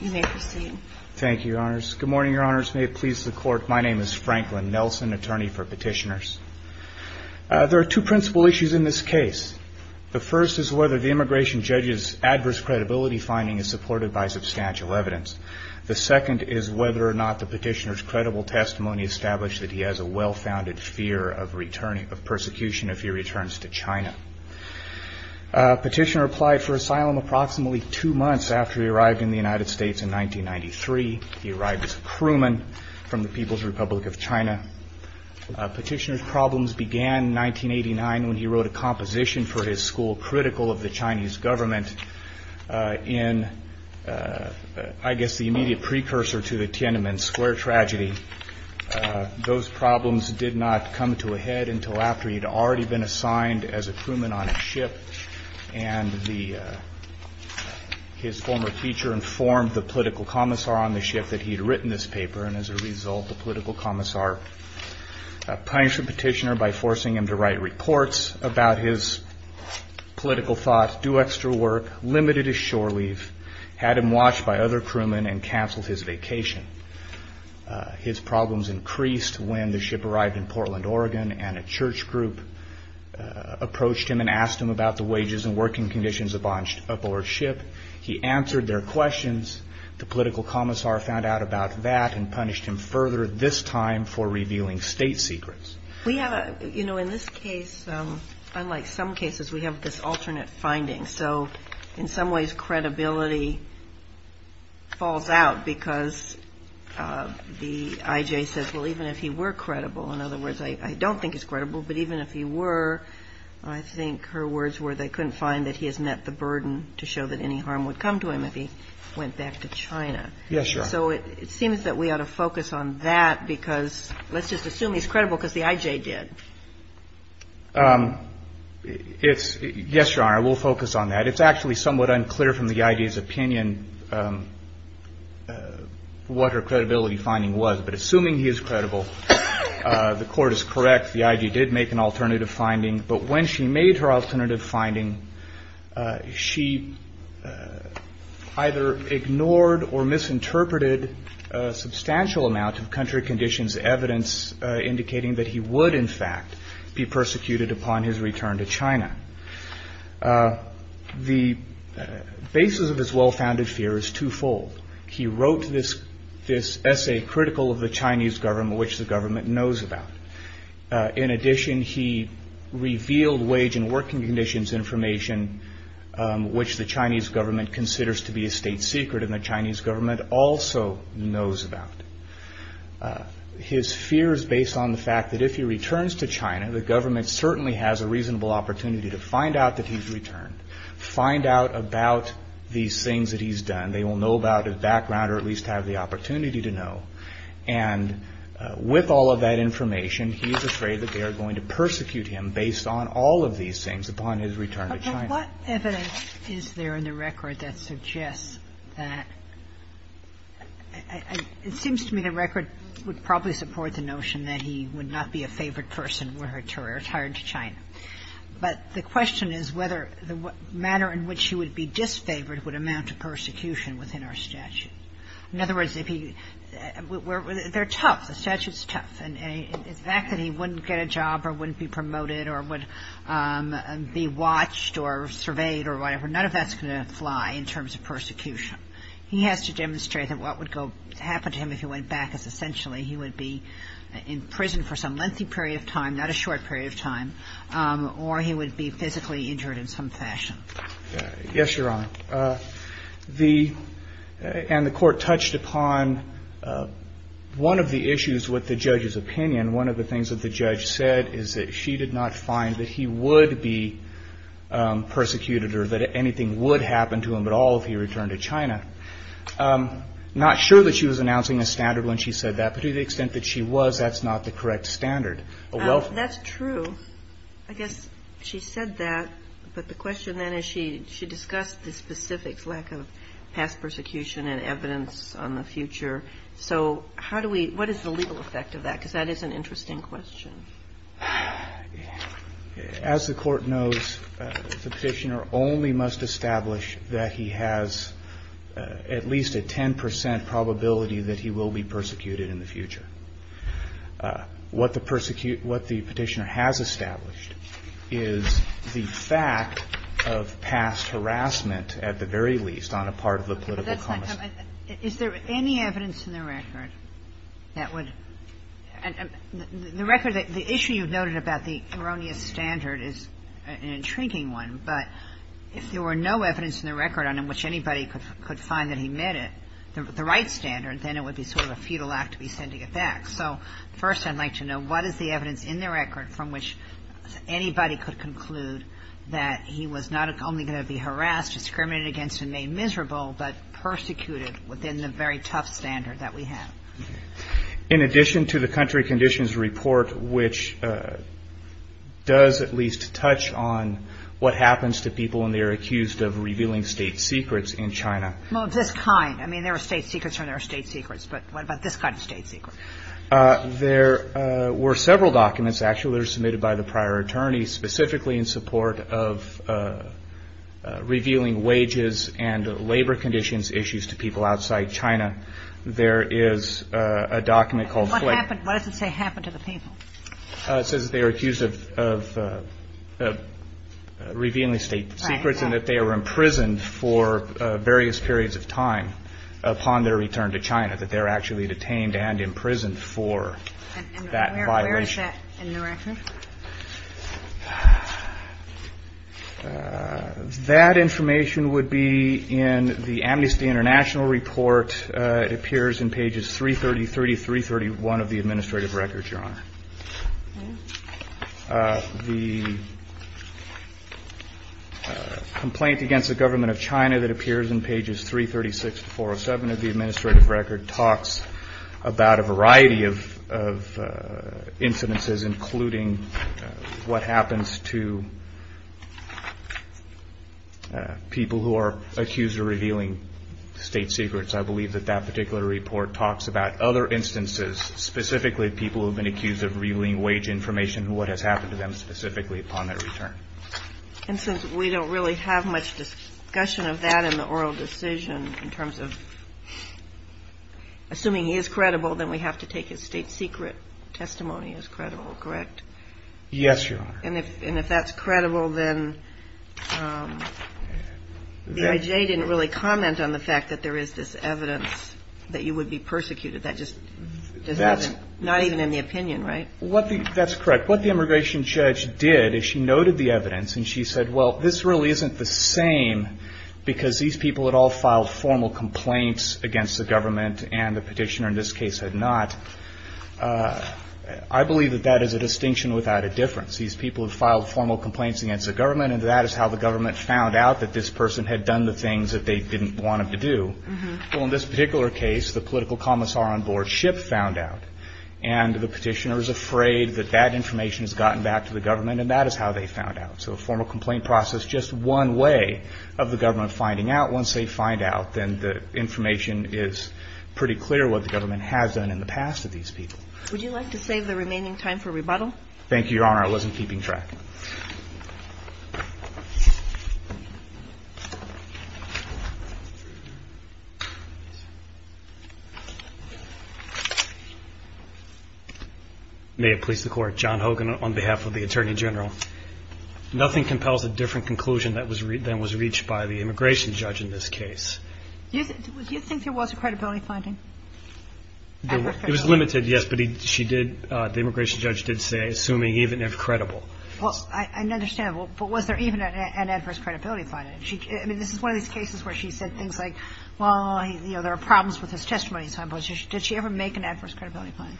You may proceed. Thank you, Your Honors. Good morning, Your Honors. May it please the Court. My name is Franklin Nelson, attorney for petitioners. There are two principal issues in this case. The first is whether the immigration judge's adverse credibility finding is supported by substantial evidence. The second is whether or not the petitioner's credible testimony established that he has a well-founded fear of persecution if he returns to China. Petitioner applied for asylum approximately two months after he arrived in the United States in 1993. He arrived as a crewman from the People's Republic of China. Petitioner's problems began in 1989 when he wrote a composition for his school, critical of the Chinese government in, I guess, the immediate precursor to the Tiananmen Square tragedy. Those problems did not come to a head until after he'd already been assigned as a crewman on a ship and his former teacher informed the political commissar on the ship that he'd written this paper, and as a result the political commissar punished the petitioner by forcing him to write reports about his political thoughts, do extra work, limited his shore leave, had him watched by other crewmen, and canceled his vacation. His problems increased when the ship arrived in Portland, Oregon, and a church group approached him and asked him about the wages and working conditions aboard the ship. He answered their questions. The political commissar found out about that and punished him further, this time for revealing state secrets. We have a, you know, in this case, unlike some cases, we have this alternate finding. So in some ways credibility falls out because the I.J. says, well, even if he were credible, in other words, I don't think he's credible, but even if he were, I think her words were they couldn't find that he has met the burden to show that any harm would come to him if he went back to China. Yes, Your Honor. So it seems that we ought to focus on that because let's just assume he's credible because the I.J. did. Yes, Your Honor, we'll focus on that. It's actually somewhat unclear from the I.J.'s opinion what her credibility finding was, but assuming he is credible, the court is correct. The I.J. did make an alternative finding, but when she made her alternative finding, she either ignored or misinterpreted a substantial amount of country conditions evidence indicating that he would, in fact, be persecuted upon his return to China. The basis of his well-founded fear is twofold. He wrote this essay critical of the Chinese government, which the government knows about. In addition, he revealed wage and working conditions information, which the Chinese government considers to be a state secret and the Chinese government also knows about. His fear is based on the fact that if he returns to China, the government certainly has a reasonable opportunity to find out that he's returned, find out about these things that he's done. They will know about his background or at least have the opportunity to know. And with all of that information, he is afraid that they are going to persecute him based on all of these things upon his return to China. What evidence is there in the record that suggests that – it seems to me the record would probably support the notion that he would not be a favored person were he to retire to China. But the question is whether the manner in which he would be disfavored would amount to persecution within our statute. In other words, if he – they're tough. The statute's tough. And the fact that he wouldn't get a job or wouldn't be promoted or would be watched or surveyed or whatever, none of that's going to fly in terms of persecution. He has to demonstrate that what would go – happen to him if he went back is essentially he would be in prison for some lengthy period of time, not a short period of time, or he would be physically injured in some fashion. Yes, Your Honor. The – and the court touched upon one of the issues with the judge's opinion. One of the things that the judge said is that she did not find that he would be persecuted or that anything would happen to him at all if he returned to China. Not sure that she was announcing a standard when she said that, but to the extent that she was, that's not the correct standard. That's true. I guess she said that, but the question then is she discussed the specifics, lack of past persecution and evidence on the future. So how do we – what is the legal effect of that? Because that is an interesting question. As the court knows, the petitioner only must establish that he has at least a 10 percent probability that he will be persecuted in the future. What the persecution – what the petitioner has established is the fact of past harassment at the very least on a part of the political conversation. But that's not – is there any evidence in the record that would – the record that – the issue you've noted about the erroneous standard is an intriguing one, but if there were no evidence in the record on which anybody could find that the right standard, then it would be sort of a futile act to be sending it back. So first I'd like to know what is the evidence in the record from which anybody could conclude that he was not only going to be harassed, discriminated against and made miserable, but persecuted within the very tough standard that we have? In addition to the country conditions report, which does at least touch on what happens to people when they are accused of revealing state secrets in China. Well, of this kind. I mean, there are state secrets and there are state secrets, but what about this kind of state secret? There were several documents actually that were submitted by the prior attorney specifically in support of revealing wages and labor conditions issues to people outside China. There is a document called – What happened – what does it say happened to the people? It says that they were accused of revealing state secrets and that they were imprisoned for various periods of time upon their return to China, that they were actually detained and imprisoned for that violation. And where is that in the record? That information would be in the Amnesty International report. It appears in pages 330, 331 of the administrative records, Your Honor. The complaint against the government of China that appears in pages 336 to 407 of the administrative record talks about a variety of incidences, including what happens to people who are accused of revealing state secrets. I believe that that particular report talks about other instances, specifically people who have been accused of revealing wage information and what has happened to them specifically upon their return. And since we don't really have much discussion of that in the oral decision in terms of – assuming he is credible, then we have to take his state secret testimony as credible, correct? Yes, Your Honor. And if that's credible, then the IJ didn't really comment on the fact that there is this evidence that you would be persecuted. That just doesn't – not even in the opinion, right? That's correct. What the immigration judge did is she noted the evidence and she said, well, this really isn't the same because these people had all filed formal complaints against the government and the petitioner in this case had not. I believe that that is a distinction without a difference. These people have filed formal complaints against the government and that is how the government found out that this person had done the things that they didn't want him to do. Well, in this particular case, the political commissar on board Schipp found out and the petitioner is afraid that that information has gotten back to the government and that is how they found out. So a formal complaint process is just one way of the government finding out. Once they find out, then the information is pretty clear what the government has done in the past with these people. Would you like to save the remaining time for rebuttal? Thank you, Your Honor. I wasn't keeping track. May it please the Court. John Hogan on behalf of the Attorney General. Nothing compels a different conclusion than was reached by the immigration judge in this case. Do you think there was a credibility finding? It was limited, yes, but the immigration judge did say, assuming even if credible. Well, I understand, but was there even an adverse credibility finding? I mean, this is one of these cases where she said things like, well, there are problems with his testimony. Did she ever make an adverse credibility finding?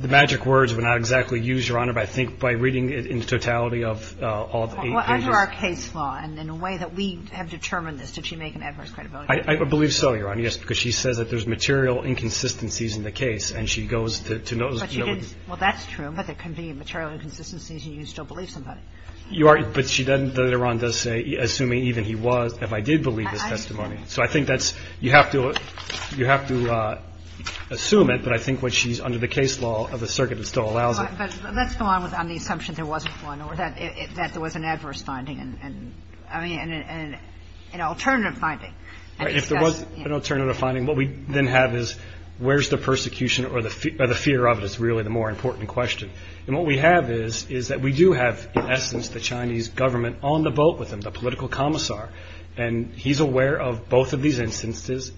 The magic words were not exactly used, Your Honor, but I think by reading it in totality of all eight cases. Well, under our case law and in a way that we have determined this, did she make an adverse credibility finding? I believe so, Your Honor, yes, because she says that there's material inconsistencies in the case and she goes to those. Well, that's true, but there can be material inconsistencies and you can still believe somebody. But she doesn't, though Iran does say, assuming even he was, if I did believe his testimony. So I think that's, you have to assume it, but I think when she's under the case law of the circuit, it still allows it. But let's go on with the assumption there wasn't one or that there was an adverse finding and, I mean, an alternative finding. If there was an alternative finding, what we then have is where's the persecution or the fear of it is really the more important question. And what we have is that we do have, in essence, the Chinese government on the boat with him, the political commissar, and he's aware of both of these instances.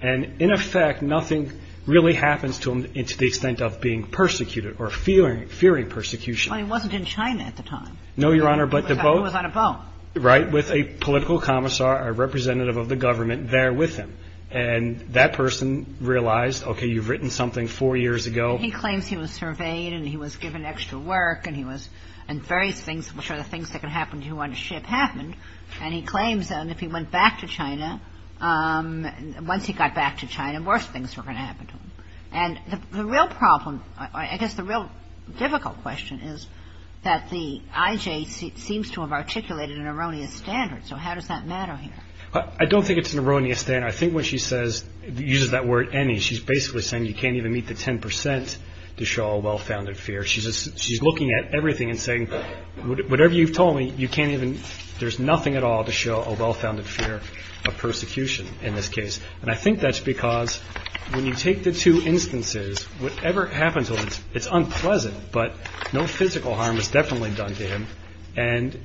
And, in effect, nothing really happens to him to the extent of being persecuted or fearing persecution. Well, he wasn't in China at the time. No, Your Honor, but the boat. He was on a boat. Right, with a political commissar, a representative of the government there with him. And that person realized, okay, you've written something four years ago. He claims he was surveyed and he was given extra work and he was, and various things, which are the things that can happen to you on a ship, happened. And he claims that if he went back to China, once he got back to China, worse things were going to happen to him. And the real problem, I guess the real difficult question is that the IJ seems to have articulated an erroneous standard. So how does that matter here? I don't think it's an erroneous standard. I think when she says, uses that word any, she's basically saying you can't even meet the 10 percent to show a well-founded fear. She's looking at everything and saying, whatever you've told me, you can't even, there's nothing at all to show a well-founded fear of persecution in this case. And I think that's because when you take the two instances, whatever happens to him, it's unpleasant, and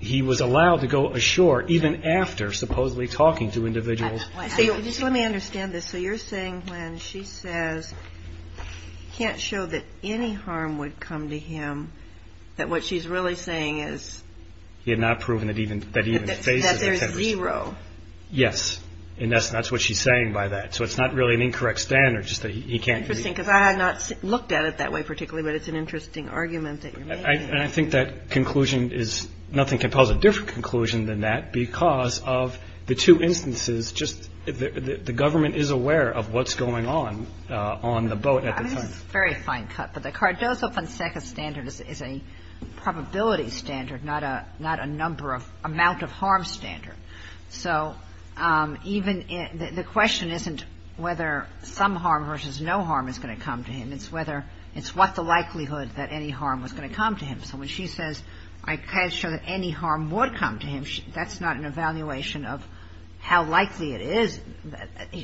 he was allowed to go ashore even after supposedly talking to individuals. Let me understand this. So you're saying when she says, can't show that any harm would come to him, that what she's really saying is. He had not proven that he even faces the 10 percent. That there's zero. Yes. And that's what she's saying by that. So it's not really an incorrect standard, just that he can't. Interesting, because I have not looked at it that way particularly, but it's an interesting argument that you're making. And I think that conclusion is, nothing compels a different conclusion than that, because of the two instances, just the government is aware of what's going on, on the boat at the time. It's a very fine cut, but the Cardozo-Fonseca standard is a probability standard, not a number of, amount of harm standard. So even, the question isn't whether some harm versus no harm is going to come to him. It's whether, it's what the likelihood that any harm was going to come to him. So when she says, I can't show that any harm would come to him, that's not an evaluation of how likely it is.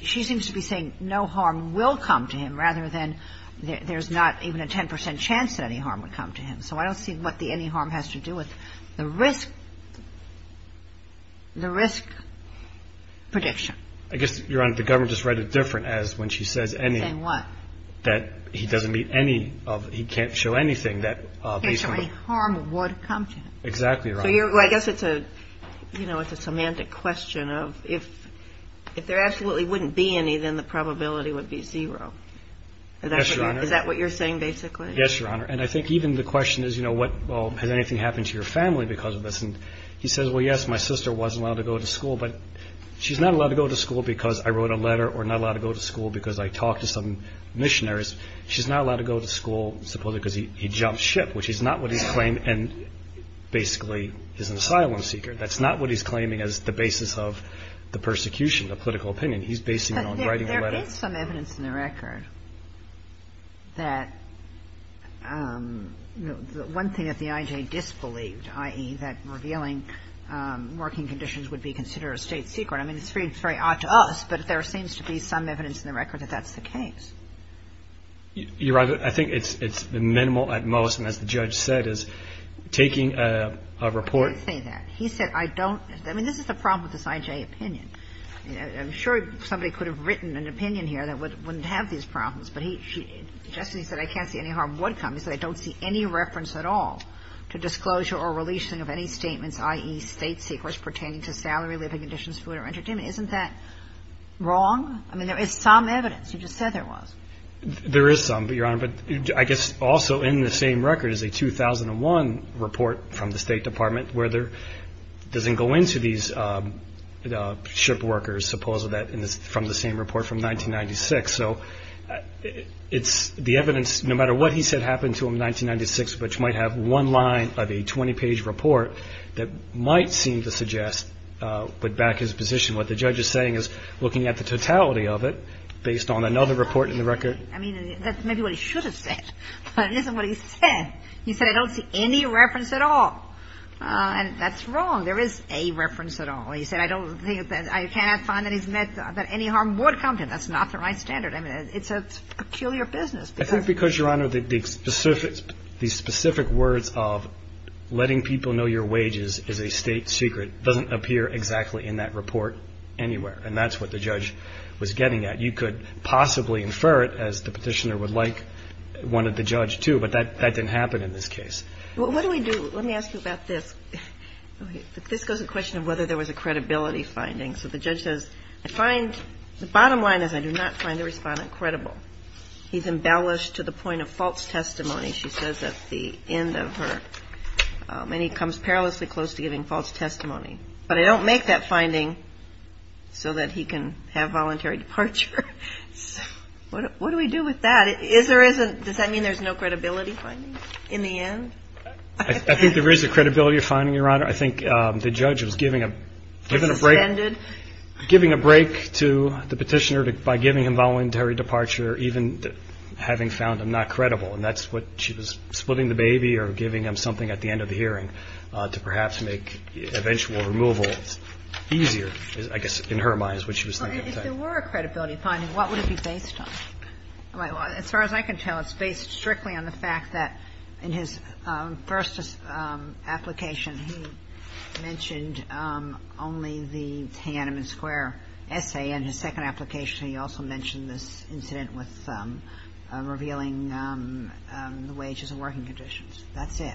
She seems to be saying no harm will come to him, rather than there's not even a 10 percent chance that any harm would come to him. So I don't see what the any harm has to do with the risk, the risk prediction. I guess, Your Honor, the government just read it different as when she says any. Saying what? That he doesn't meet any of, he can't show anything that. He can't show any harm would come to him. Exactly, Your Honor. I guess it's a, you know, it's a semantic question of, if there absolutely wouldn't be any, then the probability would be zero. Yes, Your Honor. Is that what you're saying basically? Yes, Your Honor. And I think even the question is, you know, what, well, has anything happened to your family because of this? And he says, well, yes, my sister wasn't allowed to go to school, but she's not allowed to go to school because I wrote a letter or not allowed to go to school because I talked to some missionaries. She's not allowed to go to school supposedly because he jumped ship, which is not what he's claiming and basically is an asylum seeker. That's not what he's claiming as the basis of the persecution, the political opinion. He's basing it on writing a letter. There is some evidence in the record that one thing that the I.J. disbelieved, i.e., that revealing working conditions would be considered a state secret. I mean, it's very odd to us, but there seems to be some evidence in the record that that's the case. Your Honor, I think it's minimal at most, and as the judge said, is taking a report. I didn't say that. He said I don't. I mean, this is the problem with this I.J. opinion. I'm sure somebody could have written an opinion here that wouldn't have these problems, but he just said I can't see any harm would come. He said I don't see any reference at all to disclosure or releasing of any statements, i.e., state secrets pertaining to salary, living conditions, food or entertainment. Isn't that wrong? I mean, there is some evidence. You just said there was. There is some, Your Honor, but I guess also in the same record is a 2001 report from the State Department where there doesn't go into these ship workers, suppose that from the same report from 1996. So it's the evidence, no matter what he said happened to him in 1996, which might have one line of a 20-page report that might seem to suggest, but back his position, what the judge is saying is looking at the totality of it based on another report in the record. I mean, that's maybe what he should have said, but it isn't what he said. He said I don't see any reference at all. And that's wrong. There is a reference at all. He said I don't think that I cannot find that he's meant that any harm would come to him. That's not the right standard. I mean, it's a peculiar business. I think because, Your Honor, the specific words of letting people know your wages is a state secret doesn't appear exactly in that report anywhere, and that's what the judge was getting at. You could possibly infer it, as the Petitioner would like, wanted the judge to, but that didn't happen in this case. What do we do? Let me ask you about this. This goes to the question of whether there was a credibility finding. So the judge says I find the bottom line is I do not find the Respondent credible. He's embellished to the point of false testimony, she says at the end of her, and he comes perilously close to giving false testimony. But I don't make that finding so that he can have voluntary departure. What do we do with that? Does that mean there's no credibility finding in the end? I think there is a credibility finding, Your Honor. I think the judge was giving a break to the Petitioner by giving him voluntary departure, even having found him not credible. And that's what she was splitting the baby or giving him something at the end of the hearing to perhaps make eventual removal easier, I guess, in her mind is what she was thinking. Well, if there were a credibility finding, what would it be based on? As far as I can tell, it's based strictly on the fact that in his first application, he mentioned only the Tiananmen Square essay. In his second application, he also mentioned this incident with revealing the wages and working conditions. That's it.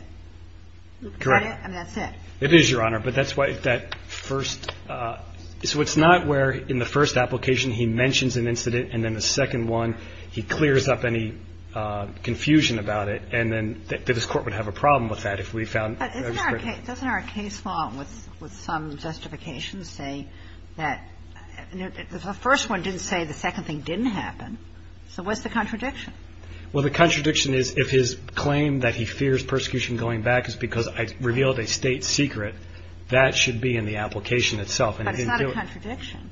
Correct. And that's it. It is, Your Honor. But that's why that first – so it's not where in the first application he mentions an incident and then the second one he clears up any confusion about it and then this Court would have a problem with that if we found – But isn't our case – doesn't our case law with some justifications say that – the first one didn't say the second thing didn't happen. So what's the contradiction? Well, the contradiction is if his claim that he fears persecution going back is because I revealed a state secret, that should be in the application itself. But it's not a contradiction.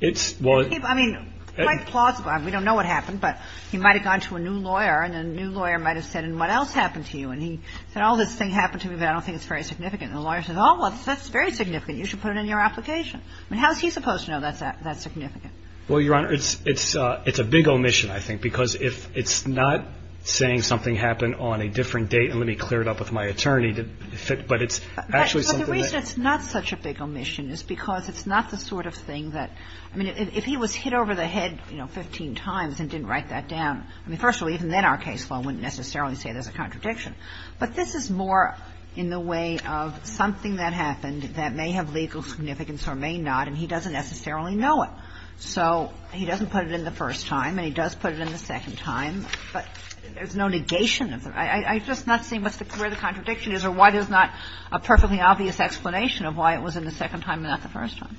It's – well – I mean, quite plausible. We don't know what happened, but he might have gone to a new lawyer and the new lawyer might have said, and what else happened to you? And he said, all this thing happened to me, but I don't think it's very significant. And the lawyer says, oh, well, that's very significant. You should put it in your application. I mean, how is he supposed to know that's significant? Well, Your Honor, it's a big omission, I think, because if it's not saying something happened on a different date and let me clear it up with my attorney, but it's actually something that – I mean, if he was hit over the head, you know, 15 times and didn't write that down, I mean, first of all, even then our case law wouldn't necessarily say there's a contradiction. But this is more in the way of something that happened that may have legal significance or may not, and he doesn't necessarily know it. So he doesn't put it in the first time, and he does put it in the second time, but there's no negation of it. I'm just not seeing where the contradiction is or why there's not a perfectly obvious explanation of why it was in the second time and not the first time.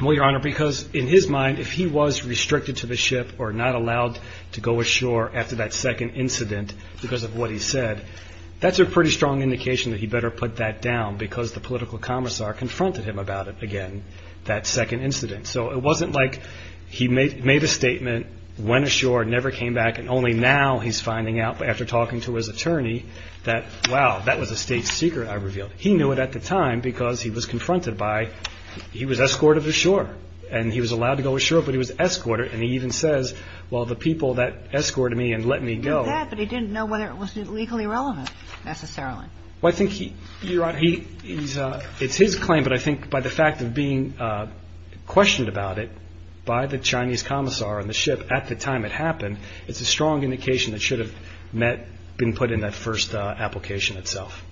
Well, Your Honor, because in his mind, if he was restricted to the ship or not allowed to go ashore after that second incident because of what he said, that's a pretty strong indication that he better put that down because the political commissar confronted him about it again, that second incident. So it wasn't like he made a statement, went ashore, never came back, and only now he's finding out after talking to his attorney that, wow, that was a state secret I revealed. He knew it at the time because he was confronted by he was escorted ashore, and he was allowed to go ashore, but he was escorted, and he even says, well, the people that escorted me and let me go. He did that, but he didn't know whether it was legally relevant necessarily. Well, I think he, Your Honor, it's his claim, but I think by the fact of being questioned about it by the Chinese commissar on the ship at the time it happened, it's a strong indication that it should have been put in that first application itself.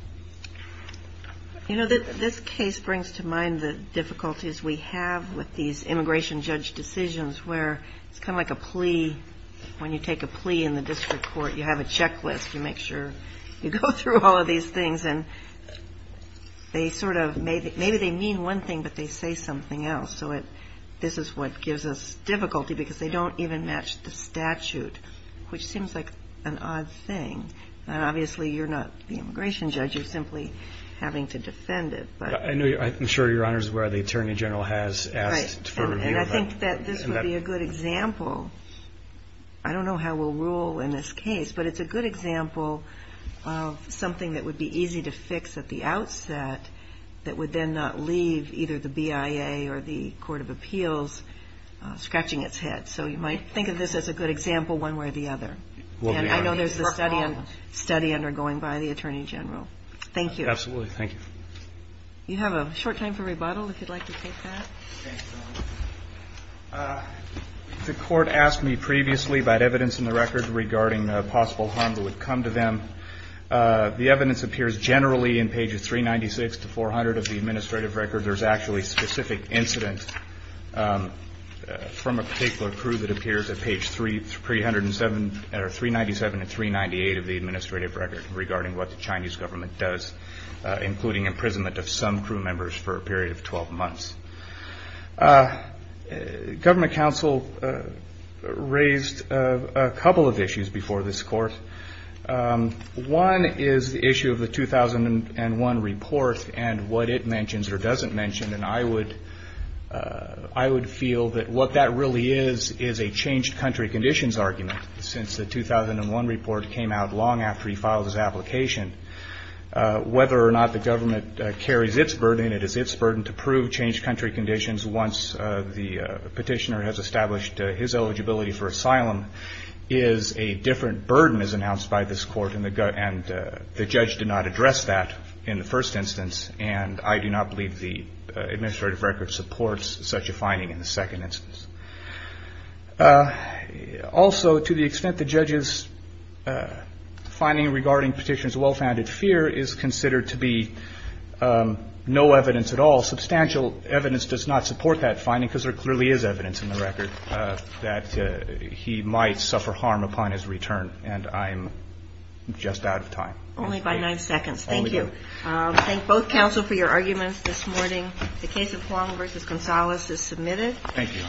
You know, this case brings to mind the difficulties we have with these immigration judge decisions where it's kind of like a plea. When you take a plea in the district court, you have a checklist. You make sure you go through all of these things, and maybe they mean one thing, but they say something else. So this is what gives us difficulty because they don't even match the statute, which seems like an odd thing. Obviously, you're not the immigration judge. You're simply having to defend it. I'm sure, Your Honor, is where the attorney general has asked for review. And I think that this would be a good example. I don't know how we'll rule in this case, but it's a good example of something that would be easy to fix at the outset that would then not leave either the BIA or the Court of Appeals scratching its head. So you might think of this as a good example one way or the other. And I know there's a study undergoing by the attorney general. Thank you. Absolutely. Thank you. You have a short time for rebuttal if you'd like to take that. The court asked me previously about evidence in the record regarding possible harm that would come to them. The evidence appears generally in pages 396 to 400 of the administrative record. There's actually a specific incident from a particular crew that appears at page 397 to 398 of the administrative record regarding what the Chinese government does, including imprisonment of some crew members for a period of 12 months. Government counsel raised a couple of issues before this court. One is the issue of the 2001 report and what it mentions or doesn't mention. And I would feel that what that really is is a changed country conditions argument since the 2001 report came out long after he filed his application. Whether or not the government carries its burden, it is its burden to prove changed country conditions once the petitioner has established his eligibility for asylum is a different burden as announced by this court. And the judge did not address that in the first instance. And I do not believe the administrative record supports such a finding in the second instance. Also, to the extent the judge's finding regarding petitioner's well-founded fear is considered to be no evidence at all, substantial evidence does not support that finding because there clearly is evidence in the record that he might suffer harm upon his return. And I'm just out of time. Only by nine seconds. Thank you. Thank both counsel for your arguments this morning. The case of Huang v. Gonzales is submitted. Thank you.